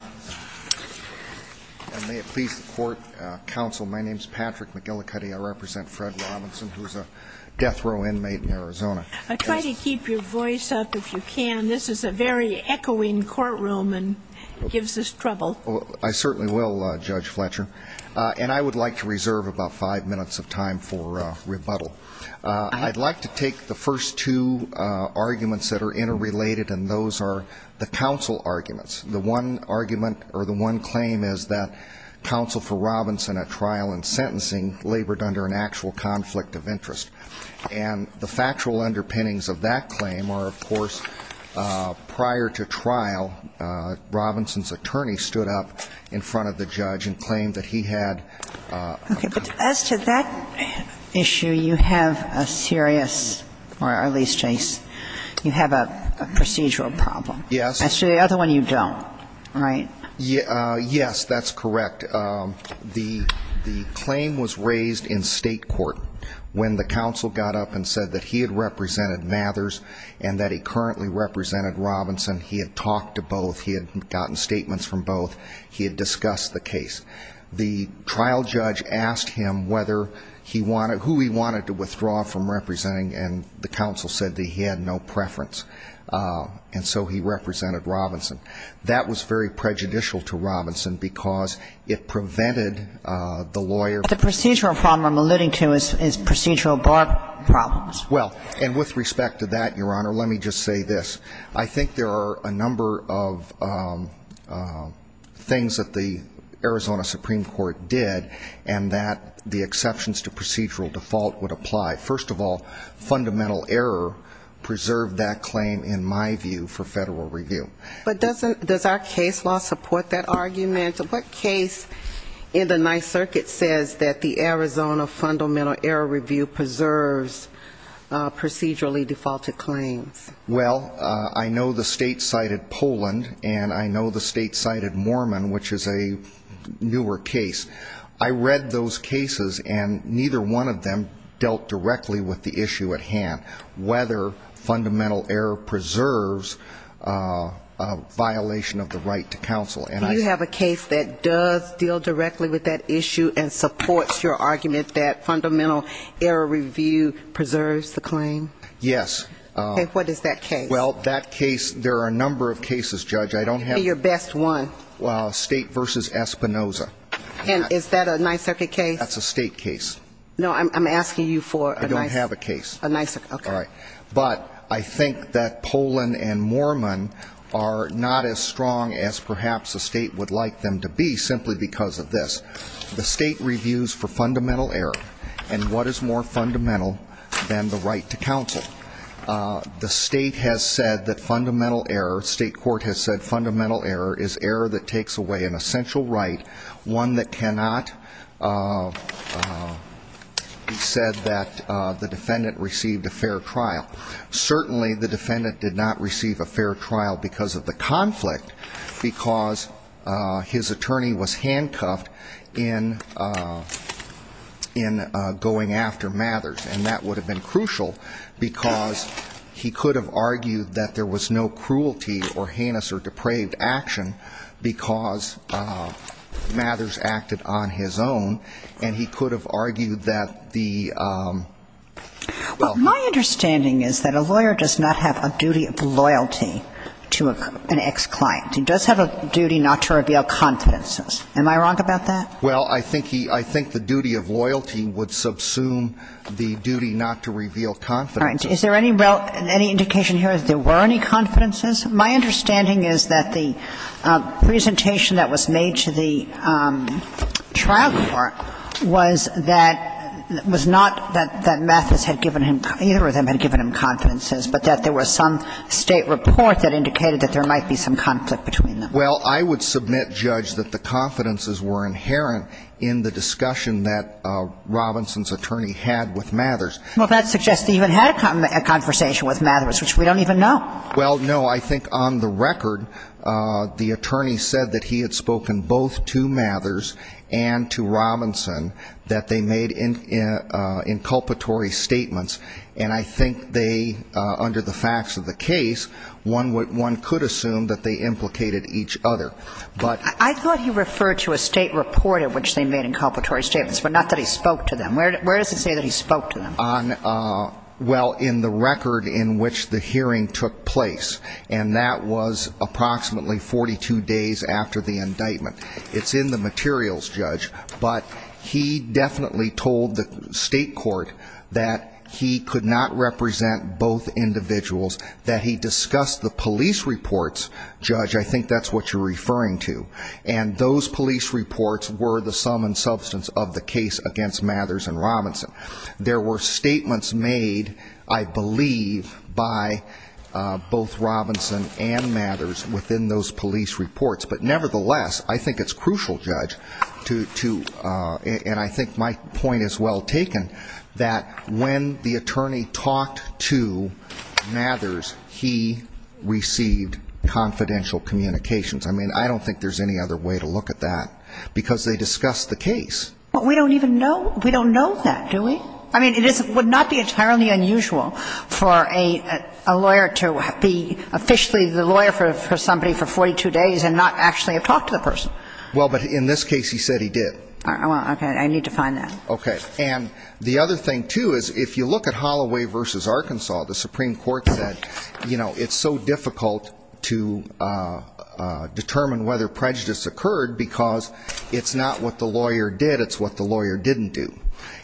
I certainly will, Judge Fletcher. And I would like to reserve about five minutes of time for rebuttal. I'd like to take the first two arguments that are interrelated, and those are the counsel arguments. The one argument, or the one claim, is that counsel for Robinson at trial and sentencing labored under an actual conflict of interest. And the factual underpinnings of that claim are, of course, prior to trial, Robinson's attorney stood up in front of the judge and claimed that he had a conflict of interest. As to that issue, you have a serious, or at least, you have a procedural problem. Yes. As to the other one, you don't, right? Yes, that's correct. The claim was raised in state court when the counsel got up and said that he had represented Mathers and that he currently represented Robinson. He had talked to both. He had gotten statements from both. He had discussed the case. The trial judge asked him whether he wanted, who he wanted to withdraw from representing, and the counsel said that he had no preference. And so he represented Robinson. That was very prejudicial to Robinson because it prevented the lawyer The procedural problem I'm alluding to is procedural bar problems. Well, and with respect to that, Your Honor, let me just say this. I think there are a and that the exceptions to procedural default would apply. First of all, fundamental error preserved that claim, in my view, for federal review. But does our case law support that argument? What case in the Ninth Circuit says that the Arizona Fundamental Error Review preserves procedurally defaulted claims? Well, I know the state cited Poland, and I know the state cited Mormon, which is a newer case. I read those cases, and neither one of them dealt directly with the issue at hand, whether fundamental error preserves a violation of the right to counsel. Do you have a case that does deal directly with that issue and supports your argument that fundamental error review preserves the claim? Yes. Okay. What is that case? Well, that case, there are a number of cases, Judge. I don't have Name your best one. State v. Espinoza. And is that a Ninth Circuit case? That's a state case. No, I'm asking you for a Ninth Circuit case. I don't have a case. Okay. But I think that Poland and Mormon are not as strong as perhaps a state would like them to be simply because of this. The state reviews for fundamental error, and what is more fundamental than the right to counsel? The state has said that fundamental error, state court has said that fundamental error is error that takes away an essential right, one that cannot be said that the defendant received a fair trial. Certainly, the defendant did not receive a fair trial because of the conflict, because his attorney was handcuffed in going after Mathers, and that would have been crucial because he could have argued that there was no cruelty or heinous or depraved action because Mathers acted on his own, and he could have argued that the Well, my understanding is that a lawyer does not have a duty of loyalty to an ex-client. He does have a duty not to reveal confidences. Am I wrong about that? Well, I think the duty of loyalty would subsume the duty not to reveal confidences. All right. Is there any indication here that there were any confidences? My understanding is that the presentation that was made to the trial court was that, was not that Mathers had given him, either of them had given him confidences, but that there was some state report that indicated that there might be some conflict between them. Well, I would submit, Judge, that the confidences were inherent in the discussion that Robinson's attorney had with Mathers. Well, that suggests he even had a conversation with Mathers, which we don't even know. Well, no. I think on the record, the attorney said that he had spoken both to Mathers and to Robinson, that they made inculpatory statements, and I think they, under the facts of the case, one could assume that they implicated each other. I thought he referred to a state report in which they made inculpatory statements, but not that he spoke to them. Where does it say that he spoke to them? Well, in the record in which the hearing took place, and that was approximately 42 days after the indictment. It's in the materials, Judge, but he definitely told the state court that he could not represent both individuals, that he discussed the police reports, Judge, I think that's what you're referring to, and those police reports were the sum and substance of the case against Mathers and Robinson. There were statements made, I believe, by both Robinson and Mathers within those police reports, but nevertheless, I think it's crucial, Judge, and I think my point is well taken, that when the attorney talked to Mathers, he received confidential communications. I mean, I don't think there's any other way to look at that, because they discussed the case. But we don't even know, we don't know that, do we? I mean, it would not be entirely unusual for a lawyer to be officially the lawyer for somebody for 42 days and not actually have talked to the person. Well, but in this case, he said he did. Well, okay, I need to find that. Okay. And the other thing, too, is if you look at Holloway v. Arkansas, the Supreme Court said, you know, it's so difficult to determine whether prejudice occurred because it's not what the lawyer did, it's what the lawyer didn't do.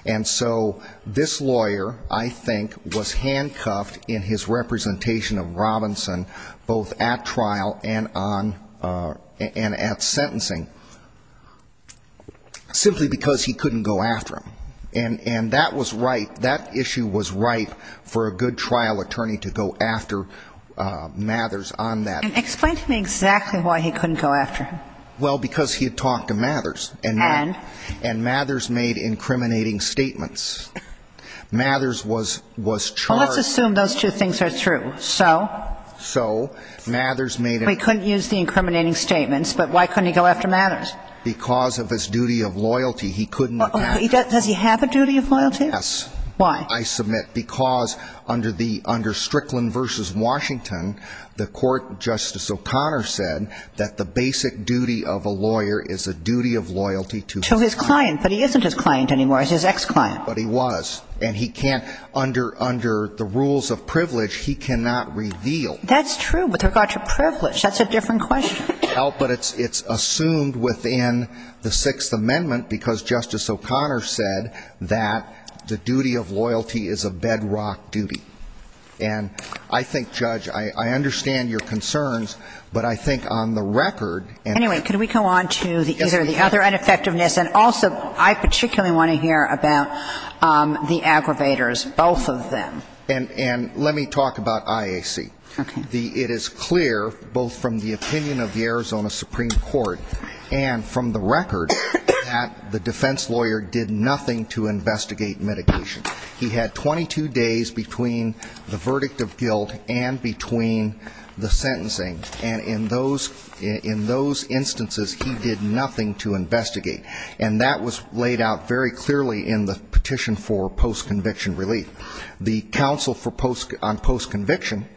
And so this lawyer, I think, was handcuffed in his representation of Robinson both at trial and on and at sentencing simply because he couldn't go after him. And that was right, that issue was right for a good trial attorney to go after Mathers on that. And explain to me exactly why he couldn't go after him. Well, because he had talked to Mathers. And? And Mathers made incriminating statements. Mathers was charged. Well, let's assume those two things are true. So? So Mathers made an Well, he couldn't use the incriminating statements, but why couldn't he go after Mathers? Because of his duty of loyalty. He couldn't go after him. Does he have a duty of loyalty? Yes. Why? I submit because under the under Strickland v. Washington, the Court, Justice O'Connor said that the basic duty of a lawyer is a duty of loyalty to To his client. But he isn't his client anymore. He's his ex-client. But he was. And he can't, under the rules of privilege, he cannot reveal. That's true. But with regard to privilege, that's a different question. Well, but it's assumed within the Sixth Amendment because Justice O'Connor said that the duty of loyalty is a bedrock duty. And I think, Judge, I understand your concerns, but I think on the record Anyway, can we go on to the other Yes, we can. I particularly want to hear about the aggravators, both of them. And let me talk about IAC. Okay. It is clear both from the opinion of the Arizona Supreme Court and from the record that the defense lawyer did nothing to investigate mitigation. He had 22 days between the verdict of guilt and between the sentencing. And in those instances, he did nothing to investigate. And that was laid out very clearly in the petition for post-conviction relief. The counsel on post-conviction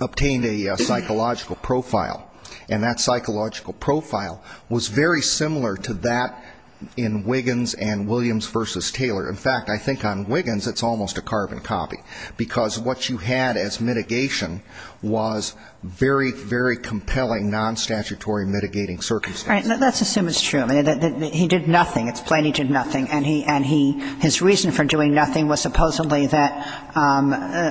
obtained a psychological profile. And that psychological profile was very similar to that in Wiggins and Williams v. Taylor. In fact, I think on Wiggins, it's almost a carbon copy. Because what you had as mitigation was very, very similar to that in Wiggins and Williams. It's a compelling non-statutory mitigating circumstance. All right. Let's assume it's true. He did nothing. It's plain he did nothing. And his reason for doing nothing was supposedly that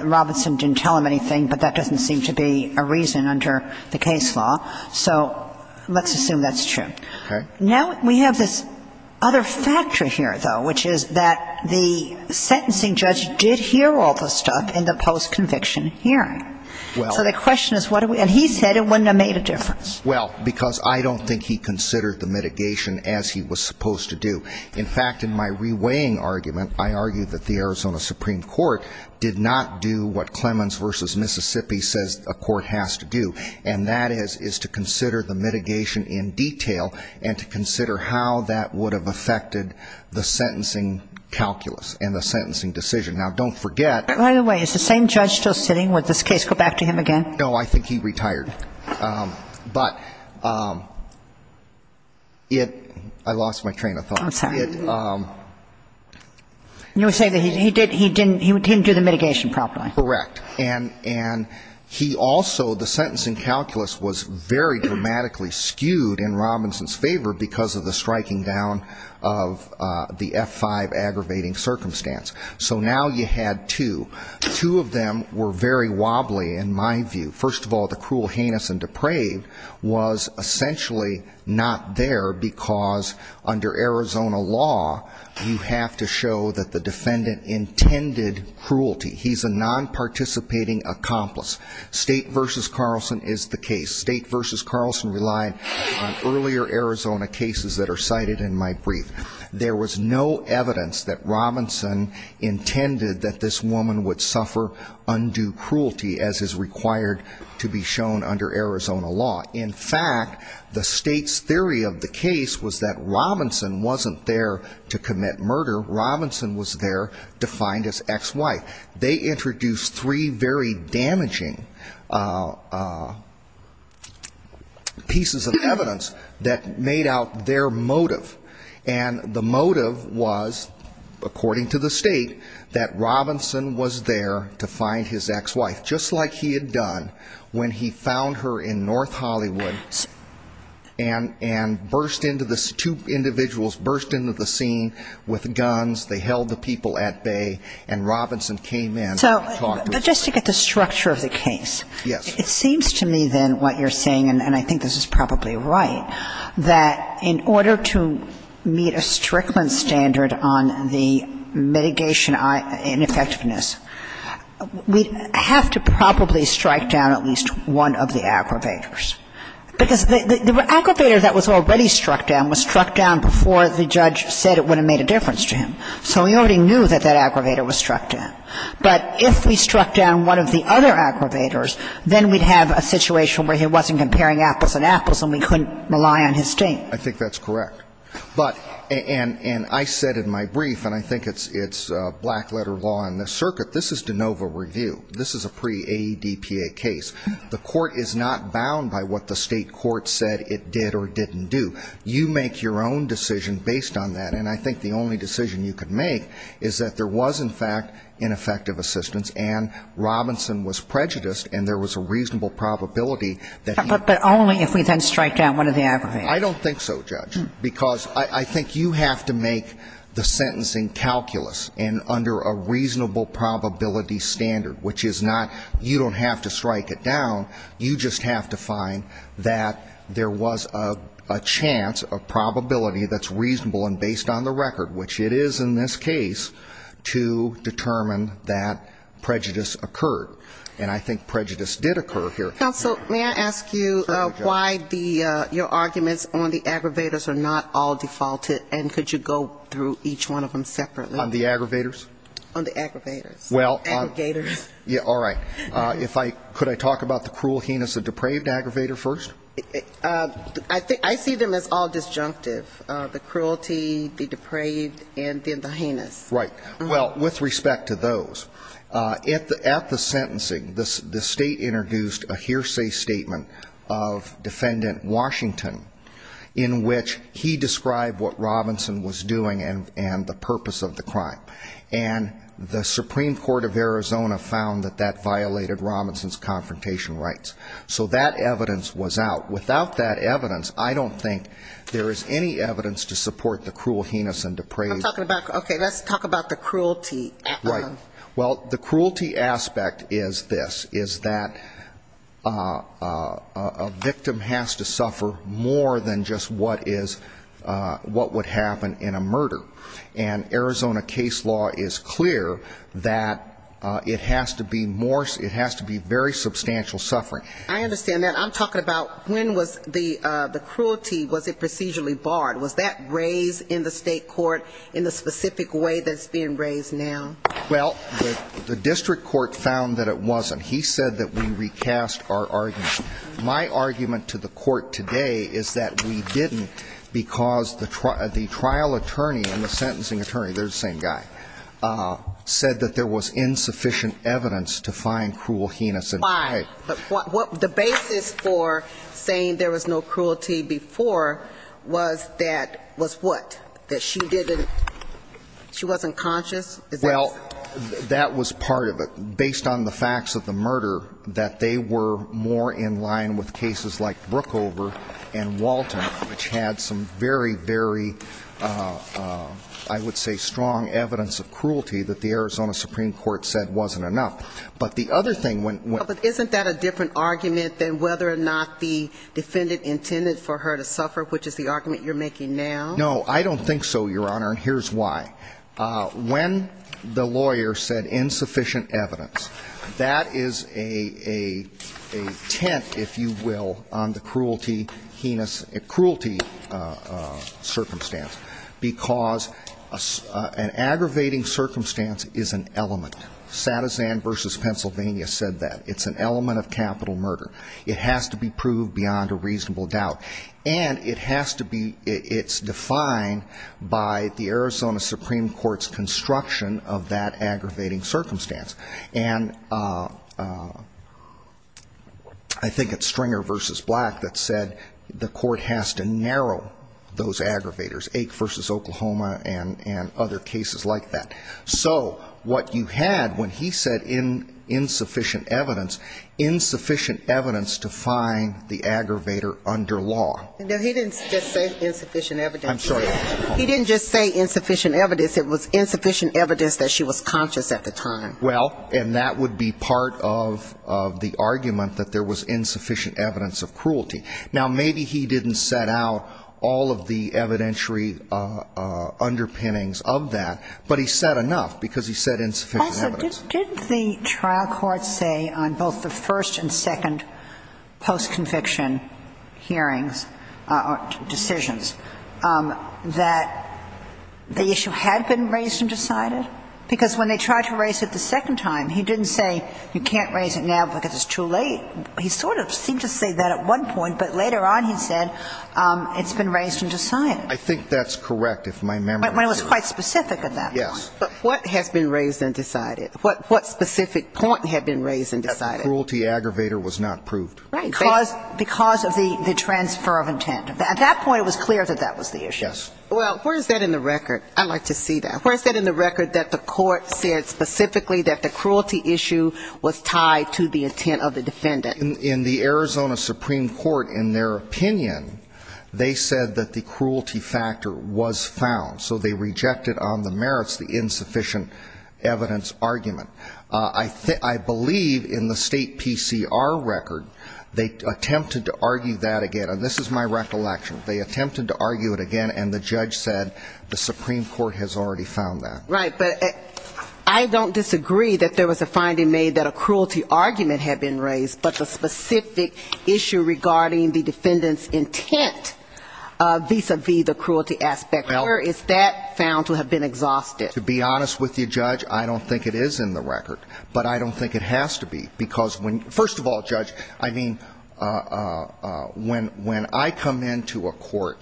Robinson didn't tell him anything, but that doesn't seem to be a reason under the case law. So let's assume that's true. Okay. Now we have this other factor here, though, which is that the sentencing judge did hear all the stuff in the post-conviction hearing. So the question is, and he said it wouldn't have made a difference. Well, because I don't think he considered the mitigation as he was supposed to do. In fact, in my reweighing argument, I argue that the Arizona Supreme Court did not do what Clemens v. Mississippi says a court has to do, and that is to consider the mitigation in detail and to consider how that would have affected the sentencing calculus and the sentencing decision. Now, don't forget that By the way, is the same judge still sitting? Would this case go back to him again? No. I think he retired. But it – I lost my train of thought. I'm sorry. You were saying that he didn't do the mitigation properly. Correct. And he also – the sentencing calculus was very dramatically skewed in the striking down of the F-5 aggravating circumstance. So now you had two. Two of them were very wobbly in my view. First of all, the cruel, heinous, and depraved was essentially not there because under Arizona law, you have to show that the defendant intended cruelty. He's a non-participating accomplice. State v. Carlson is the case. State v. Carlson relied on earlier Arizona cases which are cited in my brief. There was no evidence that Robinson intended that this woman would suffer undue cruelty as is required to be shown under Arizona law. In fact, the state's theory of the case was that Robinson wasn't there to commit murder. Robinson was there defined as ex-wife. They introduced three very damaging pieces of evidence that made out their motive for committing murder. And the motive was, according to the state, that Robinson was there to find his ex-wife, just like he had done when he found her in North Hollywood and burst into the – two individuals burst into the scene with guns. They held the people at bay, and Robinson came in and talked with them. So just to get the structure of the case. Yes. It seems to me then what you're saying, and I think this is probably right, that in order to meet a Strickland standard on the mitigation ineffectiveness, we'd have to probably strike down at least one of the aggravators. Because the aggravator that was already struck down was struck down before the judge said it would have made a difference to him. So we already knew that that aggravator was struck down. But if we struck down one of the other aggravators, then we'd have a situation where he wasn't comparing apples and apples and we couldn't rely on his state. I think that's correct. But – and I said in my brief, and I think it's black letter law in this circuit, this is de novo review. This is a pre-AEDPA case. The court is not bound by what the state court said it did or didn't do. You make your own decision based on that. And I think the only decision you could make is that there was, in fact, ineffective assistance and Robinson was prejudiced and there was a reasonable probability that he – But only if we then strike down one of the aggravators. I don't think so, Judge. Because I think you have to make the sentencing calculus and under a reasonable probability standard, which is not – you don't have to reasonable and based on the record, which it is in this case, to determine that prejudice occurred. And I think prejudice did occur here. Counsel, may I ask you why the – your arguments on the aggravators are not all defaulted? And could you go through each one of them separately? On the aggravators? On the aggravators. Well – Aggregators. Yeah, all right. If I – could I talk about the cruel heinous and depraved aggravator first? I see them as all disjunctive. The cruelty, the depraved, and then the heinous. Right. Well, with respect to those, at the sentencing, the state introduced a hearsay statement of Defendant Washington in which he described what Robinson was doing and the purpose of the crime. And the Supreme Court of Arizona found that that violated Robinson's confrontation rights. So that evidence was out. Without that evidence, I don't think there is any evidence to support the cruel heinous and depraved. I'm talking about – okay, let's talk about the cruelty. Right. Well, the cruelty aspect is this, is that a victim has to suffer more than just what is – what would happen in a murder. And Arizona case law is clear that it has to be more – it has to be very substantial suffering. I understand that. I'm talking about when was the cruelty, was it procedurally barred? Was that raised in the state court in the specific way that it's being raised now? Well, the district court found that it wasn't. He said that we recast our argument. My argument to the court today is that we didn't because the trial attorney and the sentencing attorney – they're the same guy – said that there was insufficient evidence to find cruel heinous. Why? The basis for saying there was no cruelty before was that – was what? That she didn't – she wasn't conscious? Well, that was part of it. Based on the facts of the murder, that they were more in line with cases like Brookover and Walton, which had some very, very, I would say, strong evidence of cruelty that the Arizona Supreme Court said wasn't enough. But the other thing when – But isn't that a different argument than whether or not the defendant intended for her to suffer, which is the argument you're making now? No, I don't think so, Your Honor, and here's why. When the lawyer said insufficient evidence, that is a tent, if you will, on the cruelty, heinous – cruelty circumstance because an aggravating circumstance is an element. Satizan v. Pennsylvania said that. It's an element of capital murder. It has to be proved beyond a reasonable doubt. And it has to be – it's defined by the Arizona Supreme Court's construction of that aggravating circumstance. And I think it's Stringer v. Black that said the court has to narrow those aggravators, Ake v. Oklahoma and other cases like that. So what you had when he said insufficient evidence, insufficient evidence to find the aggravator under law. No, he didn't just say insufficient evidence. I'm sorry. He didn't just say insufficient evidence. It was insufficient evidence that she was conscious at the time. Well, and that would be part of the argument that there was insufficient evidence of cruelty. Now, maybe he didn't set out all of the evidentiary underpinnings of that, but he said enough because he said insufficient evidence. Also, didn't the trial court say on both the first and second post-conviction hearings or decisions that the issue had been raised and decided? Because when they tried to raise it the second time, he didn't say you can't raise it now because it's too late. He sort of seemed to say that at one point, but later on he said it's been raised and decided. I think that's correct if my memory serves. But it was quite specific at that point. Yes. But what has been raised and decided? What specific point had been raised and decided? That the cruelty aggravator was not proved. Right. Because of the transfer of intent. At that point, it was clear that that was the issue. Yes. Well, where is that in the record? I'd like to see that. Where is that in the record that the court said specifically that the cruelty issue was tied to the intent of the defendant? In the Arizona Supreme Court, in their opinion, they said that the cruelty factor was found. So they rejected on the merits the insufficient evidence argument. I believe in the state PCR record, they attempted to argue that again. And this is my recollection. They attempted to argue it again, and the judge said the Supreme Court has already found that. Right. But I don't disagree that there was a finding made that a cruelty argument had been raised, but the specific issue regarding the defendant's intent vis-a-vis the cruelty aspect, where is that found to have been exhausted? To be honest with you, Judge, I don't think it is in the record. But I don't think it has to be. Because when, first of all, Judge, I mean, when I come into a court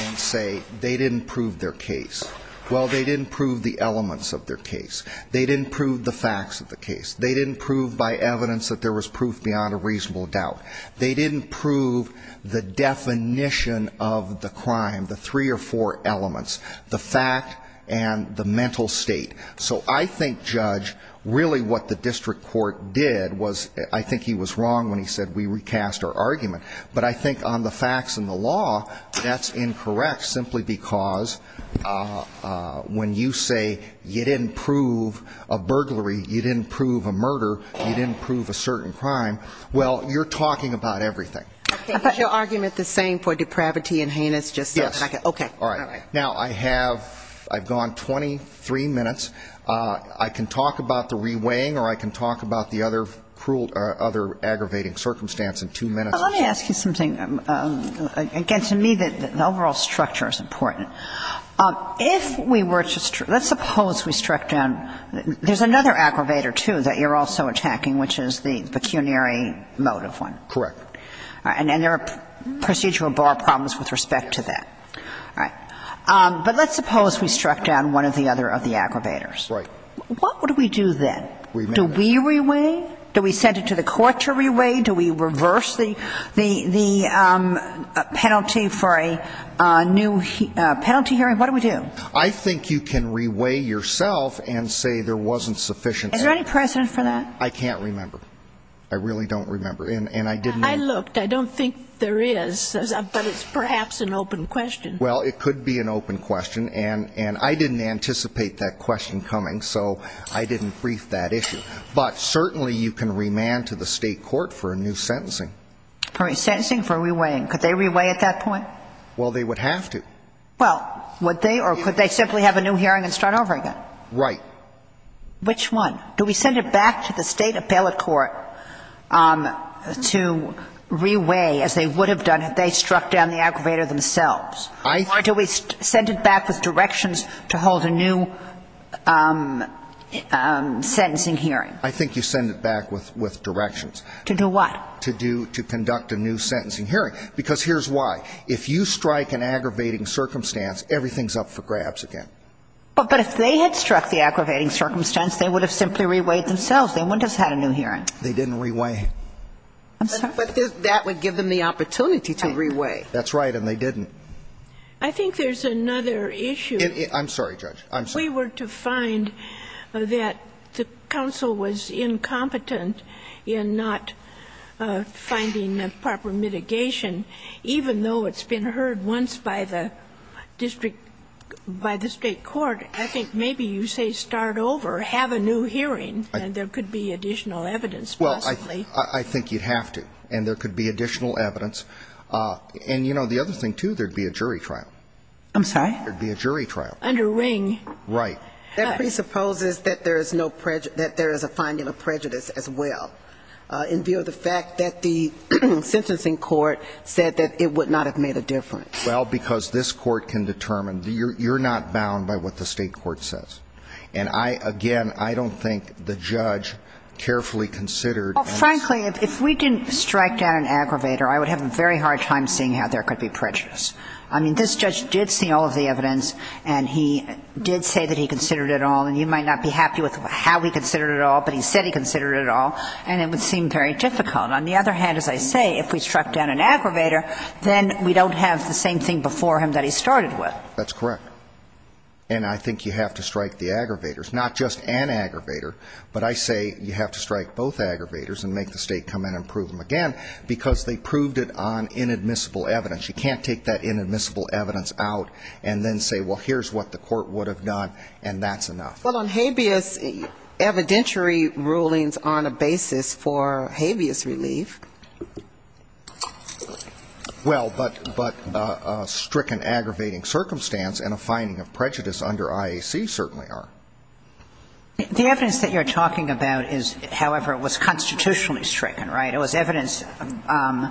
and say they didn't prove their case, well, they didn't prove the elements of their case. They didn't prove the facts of the case. They didn't prove by evidence that there was proof beyond a reasonable doubt. They didn't prove the definition of the crime, the three or four elements, the fact and the mental state. So I think, Judge, really what the district court did was I think he was wrong when he said we recast our argument. But I think on the facts and the law, that's incorrect simply because when you say you didn't prove a burglary, you didn't prove a murder, you didn't prove a certain crime, well, you're talking about everything. Is your argument the same for depravity and heinous? Yes. Okay. All right. Now, I have, I've gone 23 minutes. I can talk about the reweighing or I can talk about the other aggravating circumstance in two minutes or so. Well, let me ask you something. Again, to me, the overall structure is important. If we were to, let's suppose we struck down, there's another aggravator, too, that you're also attacking, which is the pecuniary motive one. Correct. And there are procedural bar problems with respect to that. All right. But let's suppose we struck down one or the other of the aggravators. Right. What would we do then? Remember. Do we reweigh? Do we send it to the court to reweigh? Do we reverse the penalty for a new penalty hearing? What do we do? I think you can reweigh yourself and say there wasn't sufficient. Is there any precedent for that? I can't remember. I really don't remember. I looked. I don't think there is. But it's perhaps an open question. Well, it could be an open question. And I didn't anticipate that question coming, so I didn't brief that issue. But certainly you can remand to the State court for a new sentencing. Sentencing for reweighing. Could they reweigh at that point? Well, they would have to. Well, would they? Or could they simply have a new hearing and start over again? Right. Which one? Do we send it back to the State appellate court to reweigh as they would have done if they struck down the aggravator themselves? Or do we send it back with directions to hold a new sentencing hearing? I think you send it back with directions. To do what? To conduct a new sentencing hearing. Because here's why. If you strike an aggravating circumstance, everything's up for grabs again. But if they had struck the aggravating circumstance, they would have simply reweighed themselves. They wouldn't have had a new hearing. They didn't reweigh. I'm sorry? But that would give them the opportunity to reweigh. That's right. And they didn't. I think there's another issue. I'm sorry, Judge. I'm sorry. If we were to find that the counsel was incompetent in not finding proper mitigation, even though it's been heard once by the district, by the State court, I think maybe you say start over, have a new hearing, and there could be additional evidence possibly. Well, I think you'd have to. And there could be additional evidence. And, you know, the other thing, too, there'd be a jury trial. I'm sorry? There'd be a jury trial. Under Ring. Right. That presupposes that there is no prejudice – that there is a finding of prejudice as well, in view of the fact that the sentencing court said that it would not have made a difference. Well, because this court can determine. You're not bound by what the State court says. And I, again, I don't think the judge carefully considered. Well, frankly, if we didn't strike down an aggravator, I would have a very hard time seeing how there could be prejudice. I mean, this judge did see all of the evidence. And he did say that he considered it all. And you might not be happy with how he considered it all, but he said he considered it all. And it would seem very difficult. On the other hand, as I say, if we struck down an aggravator, then we don't have the same thing before him that he started with. That's correct. And I think you have to strike the aggravators. Not just an aggravator, but I say you have to strike both aggravators and make the State come in and prove them again, because they proved it on inadmissible evidence. You can't take that inadmissible evidence out and then say, well, here's what the court would have agreed on, and that's enough. Well, on habeas, evidentiary rulings on a basis for habeas relief. Well, but a stricken aggravating circumstance and a finding of prejudice under IAC certainly are. The evidence that you're talking about is, however, it was constitutionally stricken, right? It was evidence.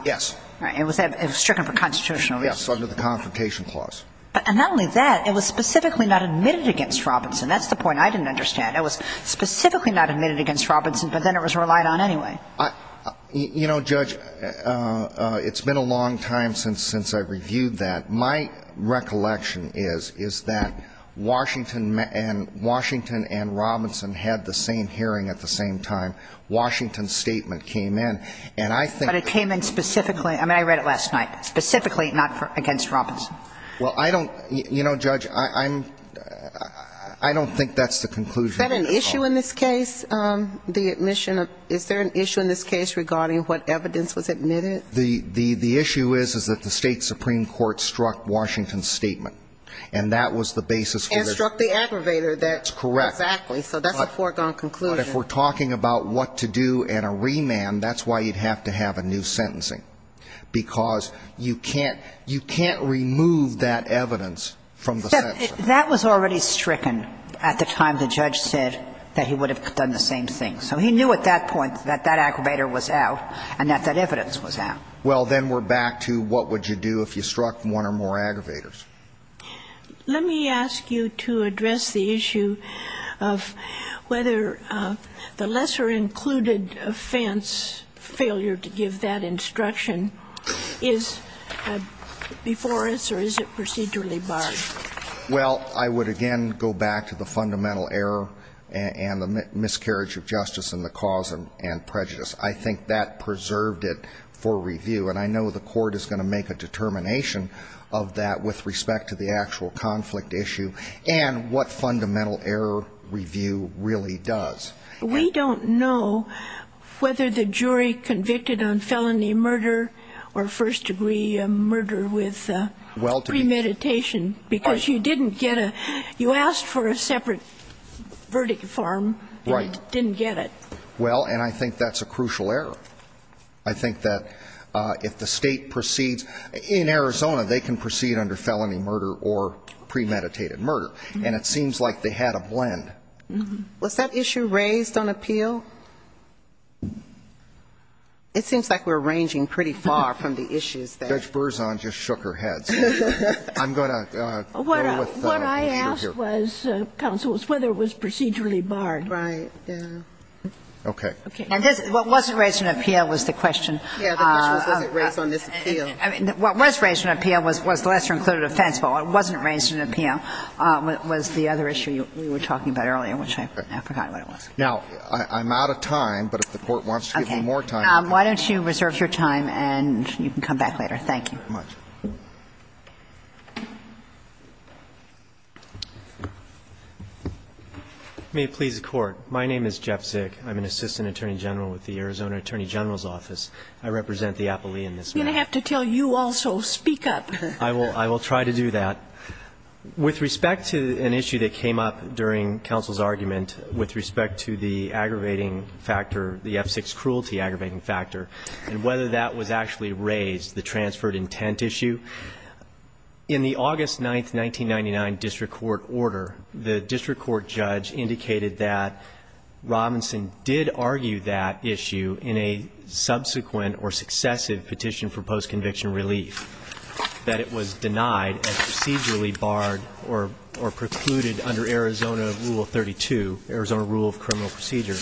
Yes. It was stricken for constitutional reason. Yes, under the Confrontation Clause. But not only that, it was specifically not admitted against Robinson. That's the point I didn't understand. It was specifically not admitted against Robinson, but then it was relied on anyway. You know, Judge, it's been a long time since I reviewed that. My recollection is, is that Washington and Robinson had the same hearing at the same time. Washington's statement came in, and I think that the court would have agreed. But it came in specifically, I mean, I read it last night, specifically not against Robinson. Well, I don't, you know, Judge, I'm, I don't think that's the conclusion. Is that an issue in this case, the admission of, is there an issue in this case regarding what evidence was admitted? The issue is, is that the State Supreme Court struck Washington's statement. And that was the basis for the. And struck the aggravator. That's correct. Exactly. So that's a foregone conclusion. But if we're talking about what to do and a remand, that's why you'd have to have a new sentencing. Because you can't, you can't remove that evidence from the sentencing. That was already stricken at the time the judge said that he would have done the same thing. So he knew at that point that that aggravator was out and that that evidence was out. Well, then we're back to what would you do if you struck one or more aggravators. Let me ask you to address the issue of whether the lesser included offense failure to give that instruction is before us or is it procedurally barred? Well, I would again go back to the fundamental error and the miscarriage of justice and the cause and prejudice. I think that preserved it for review. And I know the court is going to make a determination of that with respect to the actual conflict issue and what fundamental error review really does. We don't know whether the jury convicted on felony murder or first degree murder with premeditation. Because you didn't get a, you asked for a separate verdict form and it didn't get it. Well, and I think that's a crucial error. I think that if the State proceeds, in Arizona, they can proceed under felony murder or premeditated murder. And it seems like they had a blend. Was that issue raised on appeal? It seems like we're ranging pretty far from the issues that. Judge Berzon just shook her head. So I'm going to go with the issue here. What I asked was, counsel, was whether it was procedurally barred. Right. Okay. And what wasn't raised on appeal was the question. Yeah, the question was, was it raised on this appeal? What was raised on appeal was the Lesser Included Offense Bill. What wasn't raised on appeal was the other issue you were talking about earlier, which I forgot what it was. Now, I'm out of time, but if the Court wants to give them more time. Okay. Why don't you reserve your time and you can come back later. Thank you. Thank you very much. May it please the Court. My name is Jeff Zick. I'm an assistant attorney general with the Arizona Attorney General's Office. I represent the apollae in this matter. I'm going to have to tell you also. Speak up. I will try to do that. With respect to an issue that came up during counsel's argument, with respect to the aggravating factor, the F6 cruelty aggravating factor, and whether that was actually raised, the transferred intent issue, in the August 9, 1999, district court order, the district court judge indicated that Robinson did argue that issue in a subsequent or successive petition for post-conviction relief, that it was denied and procedurally barred or precluded under Arizona Rule 32, Arizona Rule of Criminal Procedure.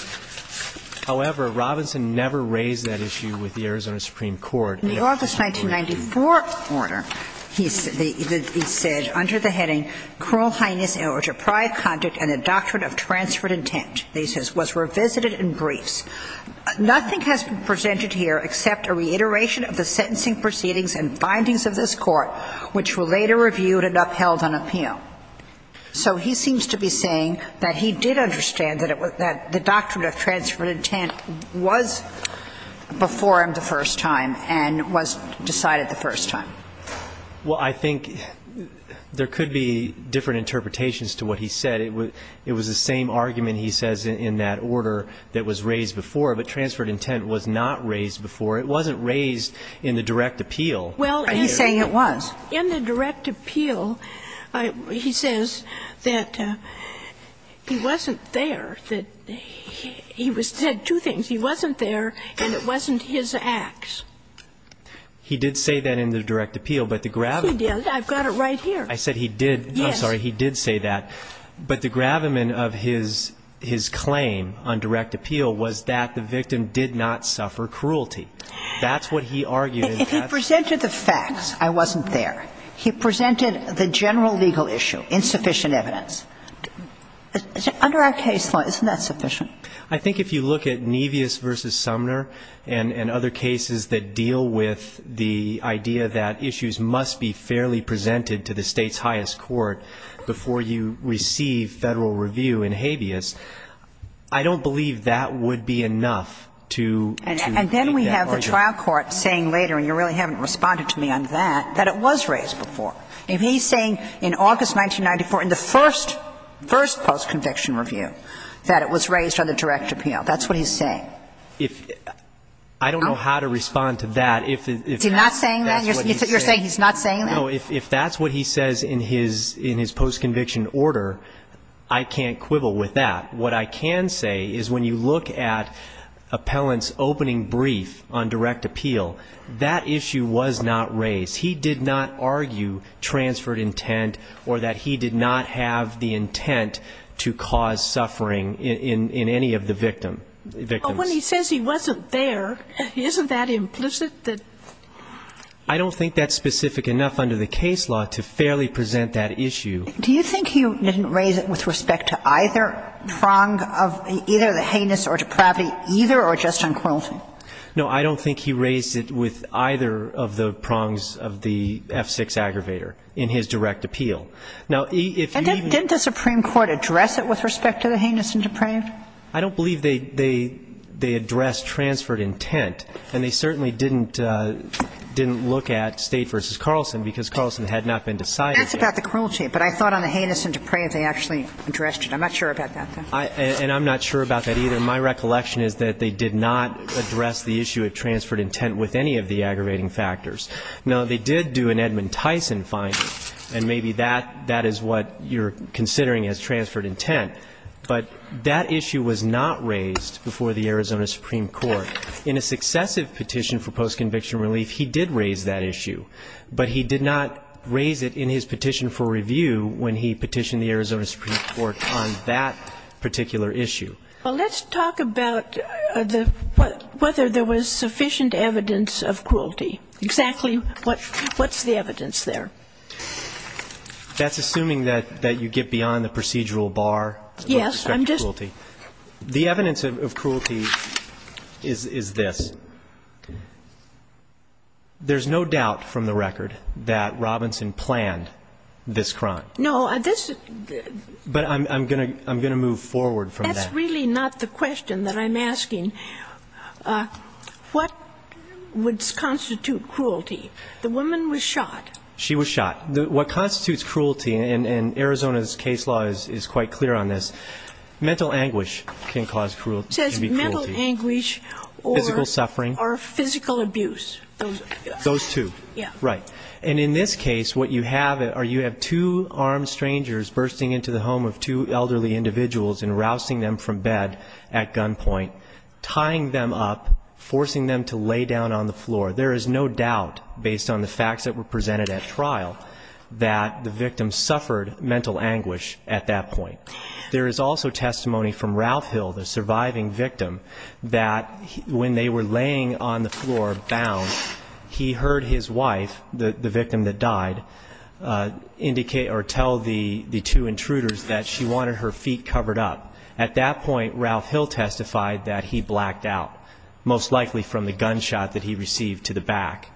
However, Robinson never raised that issue with the Arizona Supreme Court. In the August 1994 order, he said under the heading, cruel heinous or deprived conduct and the doctrine of transferred intent, he says, was revisited in briefs. Nothing has been presented here except a reiteration of the sentencing proceedings and findings of this Court, which were later reviewed and upheld on appeal. So he seems to be saying that he did understand that the doctrine of transferred intent was before him the first time and was decided the first time. Well, I think there could be different interpretations to what he said. It was the same argument, he says, in that order that was raised before. But transferred intent was not raised before. It wasn't raised in the direct appeal. Are you saying it was? In the direct appeal, he says that he wasn't there, that he was sentenced to death. He said two things. He wasn't there and it wasn't his acts. He did say that in the direct appeal. He did. I've got it right here. I said he did. Yes. I'm sorry. He did say that. But the gravamen of his claim on direct appeal was that the victim did not suffer cruelty. That's what he argued. If he presented the facts, I wasn't there. He presented the general legal issue, insufficient evidence. Under our case law, isn't that sufficient? I think if you look at Nevis v. Sumner and other cases that deal with the idea that issues must be fairly presented to the State's highest court before you receive Federal review in Habeas, I don't believe that would be enough to make that argument. And then we have the trial court saying later, and you really haven't responded to me on that, that it was raised before. If he's saying in August 1994, in the first post-conviction review, that it was raised on the direct appeal, that's what he's saying. I don't know how to respond to that. Is he not saying that? You're saying he's not saying that? No. If that's what he says in his post-conviction order, I can't quibble with that. What I can say is when you look at Appellant's opening brief on direct appeal, that issue was not raised. He did not argue transferred intent or that he did not have the intent to cause suffering in any of the victims. But when he says he wasn't there, isn't that implicit? I don't think that's specific enough under the case law to fairly present that issue. Do you think he didn't raise it with respect to either prong of either the heinous or depravity, either or just on cruelty? No. I don't think he raised it with either of the prongs of the F-6 aggravator in his direct appeal. Now, if you even ---- And didn't the Supreme Court address it with respect to the heinous and depraved? I don't believe they addressed transferred intent. And they certainly didn't look at State v. Carlson, because Carlson had not been decided yet. That's about the cruelty. But I thought on the heinous and depraved, they actually addressed it. I'm not sure about that, though. And I'm not sure about that either. My recollection is that they did not address the issue of transferred intent with any of the aggravating factors. Now, they did do an Edmund Tyson finding, and maybe that is what you're considering as transferred intent. But that issue was not raised before the Arizona Supreme Court. In a successive petition for post-conviction relief, he did raise that issue. But he did not raise it in his petition for review when he petitioned the Arizona Supreme Court on that particular issue. Well, let's talk about whether there was sufficient evidence of cruelty. Exactly what's the evidence there? That's assuming that you get beyond the procedural bar with respect to cruelty. Yes. The evidence of cruelty is this. There's no doubt from the record that Robinson planned this crime. No. But I'm going to move forward from that. It's really not the question that I'm asking. What would constitute cruelty? The woman was shot. She was shot. What constitutes cruelty, and Arizona's case law is quite clear on this, mental anguish can cause cruelty. It says mental anguish or physical abuse. Those two. Right. And in this case, what you have are you have two armed strangers bursting into the bed at gunpoint, tying them up, forcing them to lay down on the floor. There is no doubt, based on the facts that were presented at trial, that the victim suffered mental anguish at that point. There is also testimony from Ralph Hill, the surviving victim, that when they were laying on the floor bound, he heard his wife, the victim that died, indicate or tell the two intruders that she wanted her feet covered up. At that point, Ralph Hill testified that he blacked out, most likely from the gunshot that he received to the back.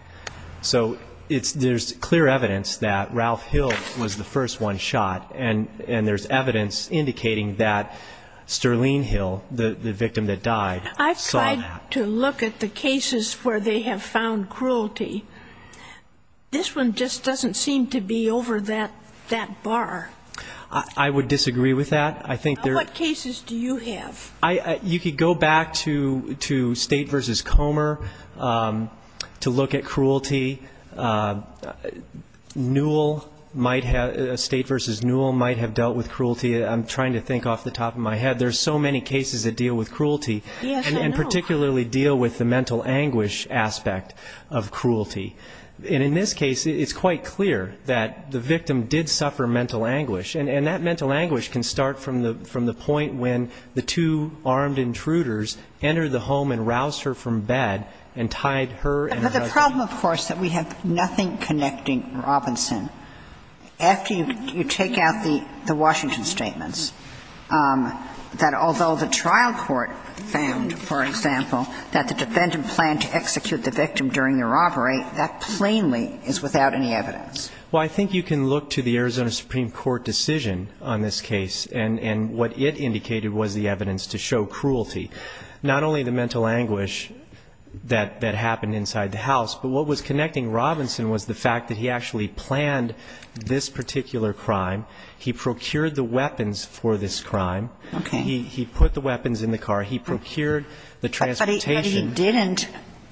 So there's clear evidence that Ralph Hill was the first one shot, and there's evidence indicating that Sterling Hill, the victim that died, saw that. I've tried to look at the cases where they have found cruelty. This one just doesn't seem to be over that bar. I would disagree with that. What cases do you have? You could go back to State v. Comer to look at cruelty. Newell might have, State v. Newell might have dealt with cruelty. I'm trying to think off the top of my head. There are so many cases that deal with cruelty and particularly deal with the mental anguish aspect of cruelty. And in this case, it's quite clear that the victim did suffer mental anguish, and that mental anguish can start from the point when the two armed intruders entered the home and roused her from bed and tied her and her husband. But the problem, of course, that we have nothing connecting Robinson, after you take out the Washington statements, that although the trial court found, for example, that the defendant planned to execute the victim during the robbery, that plainly is without any evidence. Well, I think you can look to the Arizona Supreme Court decision on this case, and what it indicated was the evidence to show cruelty. Not only the mental anguish that happened inside the house, but what was connecting Robinson was the fact that he actually planned this particular crime. He procured the weapons for this crime. Okay. He put the weapons in the car. He procured the transportation. But he didn't,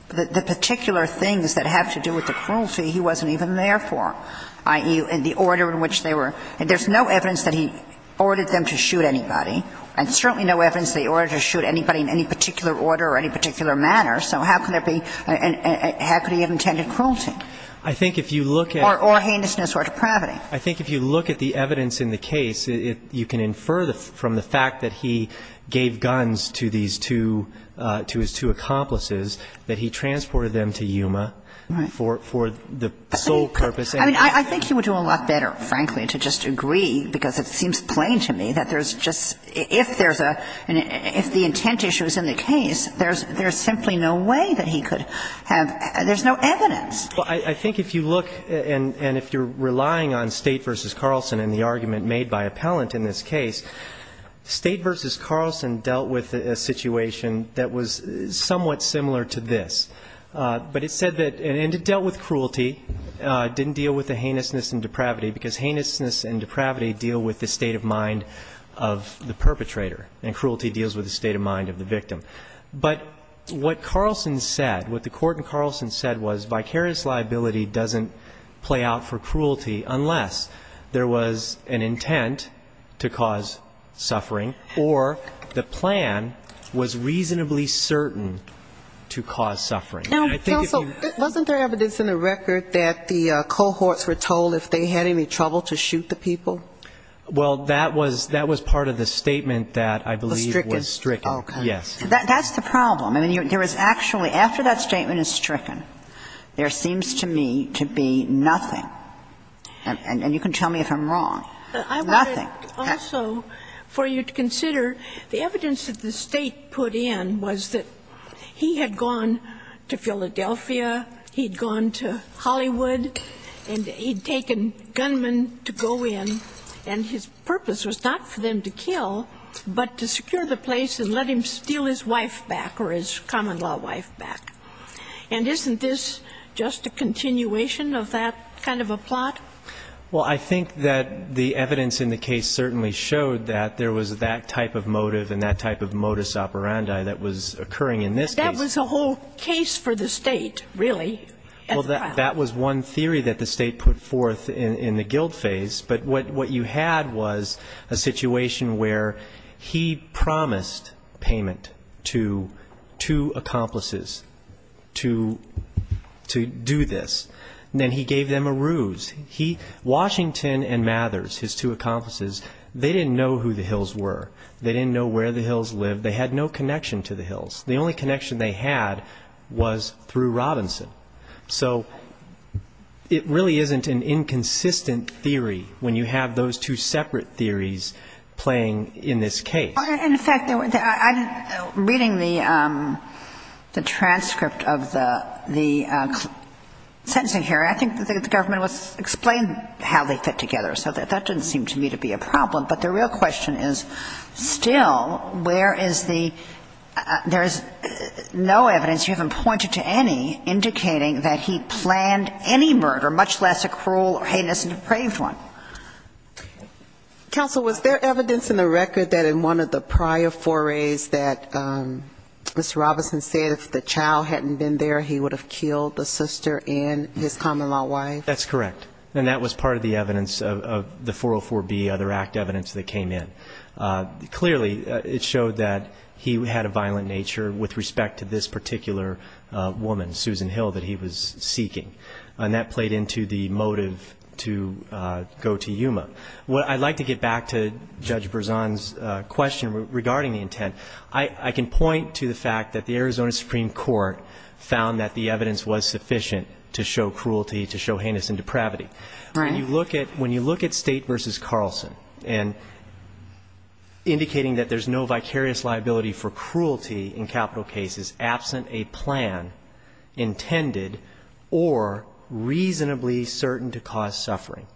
the particular things that have to do with the cruelty, he wasn't even there for, i.e., the order in which they were. There's no evidence that he ordered them to shoot anybody, and certainly no evidence that he ordered them to shoot anybody in any particular order or any particular manner, so how could there be, how could he have intended cruelty? I think if you look at. Or heinousness or depravity. I think if you look at the evidence in the case, you can infer from the fact that he gave guns to these two, to his two accomplices, that he transported them to Yuma for the sole purpose. I mean, I think he would do a lot better, frankly, to just agree, because it seems plain to me that there's just, if there's a, if the intent issue is in the case, there's simply no way that he could have, there's no evidence. Well, I think if you look and if you're relying on State v. Carlson and the argument made by appellant in this case, State v. Carlson dealt with a situation that was somewhat similar to this. But it said that, and it dealt with cruelty, didn't deal with the heinousness and depravity, because heinousness and depravity deal with the state of mind of the perpetrator, and cruelty deals with the state of mind of the victim. But what Carlson said, what the Court in Carlson said was vicarious liability doesn't play out for cruelty unless there was an intent to cause suffering or the intent to cause suffering. Now, counsel, wasn't there evidence in the record that the cohorts were told if they had any trouble to shoot the people? Well, that was, that was part of the statement that I believe was stricken. Was stricken. Okay. Yes. That's the problem. I mean, there was actually, after that statement is stricken, there seems to me to be nothing, and you can tell me if I'm wrong, nothing. I wanted also for you to consider the evidence that the State put in was that he had gone to Philadelphia, he'd gone to Hollywood, and he'd taken gunmen to go in, and his purpose was not for them to kill, but to secure the place and let him steal his wife back or his common-law wife back. And isn't this just a continuation of that kind of a plot? Well, I think that the evidence in the case certainly showed that there was that type of motive and that type of modus operandi that was occurring in this case. It was a whole case for the State, really. Well, that was one theory that the State put forth in the guilt phase. But what you had was a situation where he promised payment to two accomplices to do this. Then he gave them a ruse. Washington and Mathers, his two accomplices, they didn't know who the Hills were. They didn't know where the Hills lived. They had no connection to the Hills. The only connection they had was through Robinson. So it really isn't an inconsistent theory when you have those two separate theories playing in this case. In fact, I'm reading the transcript of the sentencing here. I think the government explained how they fit together. So that didn't seem to me to be a problem. But the real question is, still, where is the – there is no evidence, you haven't pointed to any, indicating that he planned any murder, much less a cruel or heinous and depraved one. Counsel, was there evidence in the record that in one of the prior forays that Mr. Robinson said if the child hadn't been there, he would have killed the sister and his common-law wife? That's correct. And that was part of the evidence of the 404B, other act evidence that came in. Clearly, it showed that he had a violent nature with respect to this particular woman, Susan Hill, that he was seeking. And that played into the motive to go to Yuma. I'd like to get back to Judge Berzon's question regarding the intent. I can point to the fact that the Arizona Supreme Court found that the evidence was sufficient to show cruelty, to show heinous and depravity. Right. When you look at State v. Carlson and indicating that there's no vicarious liability for cruelty in capital cases absent a plan intended or reasonably certain to cause suffering,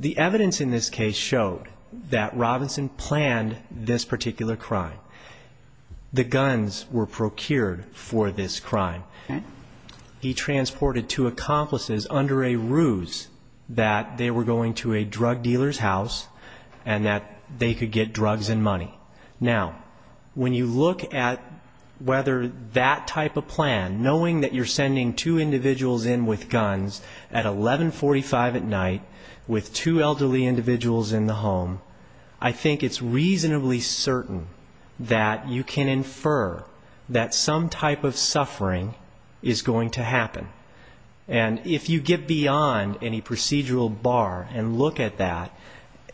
the evidence in this case showed that Robinson planned this particular crime. The guns were procured for this crime. He transported two accomplices under a ruse that they were going to a drug dealer's house and that they could get drugs and money. Now, when you look at whether that type of plan, knowing that you're sending two individuals in with guns at 1145 at night with two elderly individuals in the home, I think it's going to happen. And if you get beyond any procedural bar and look at that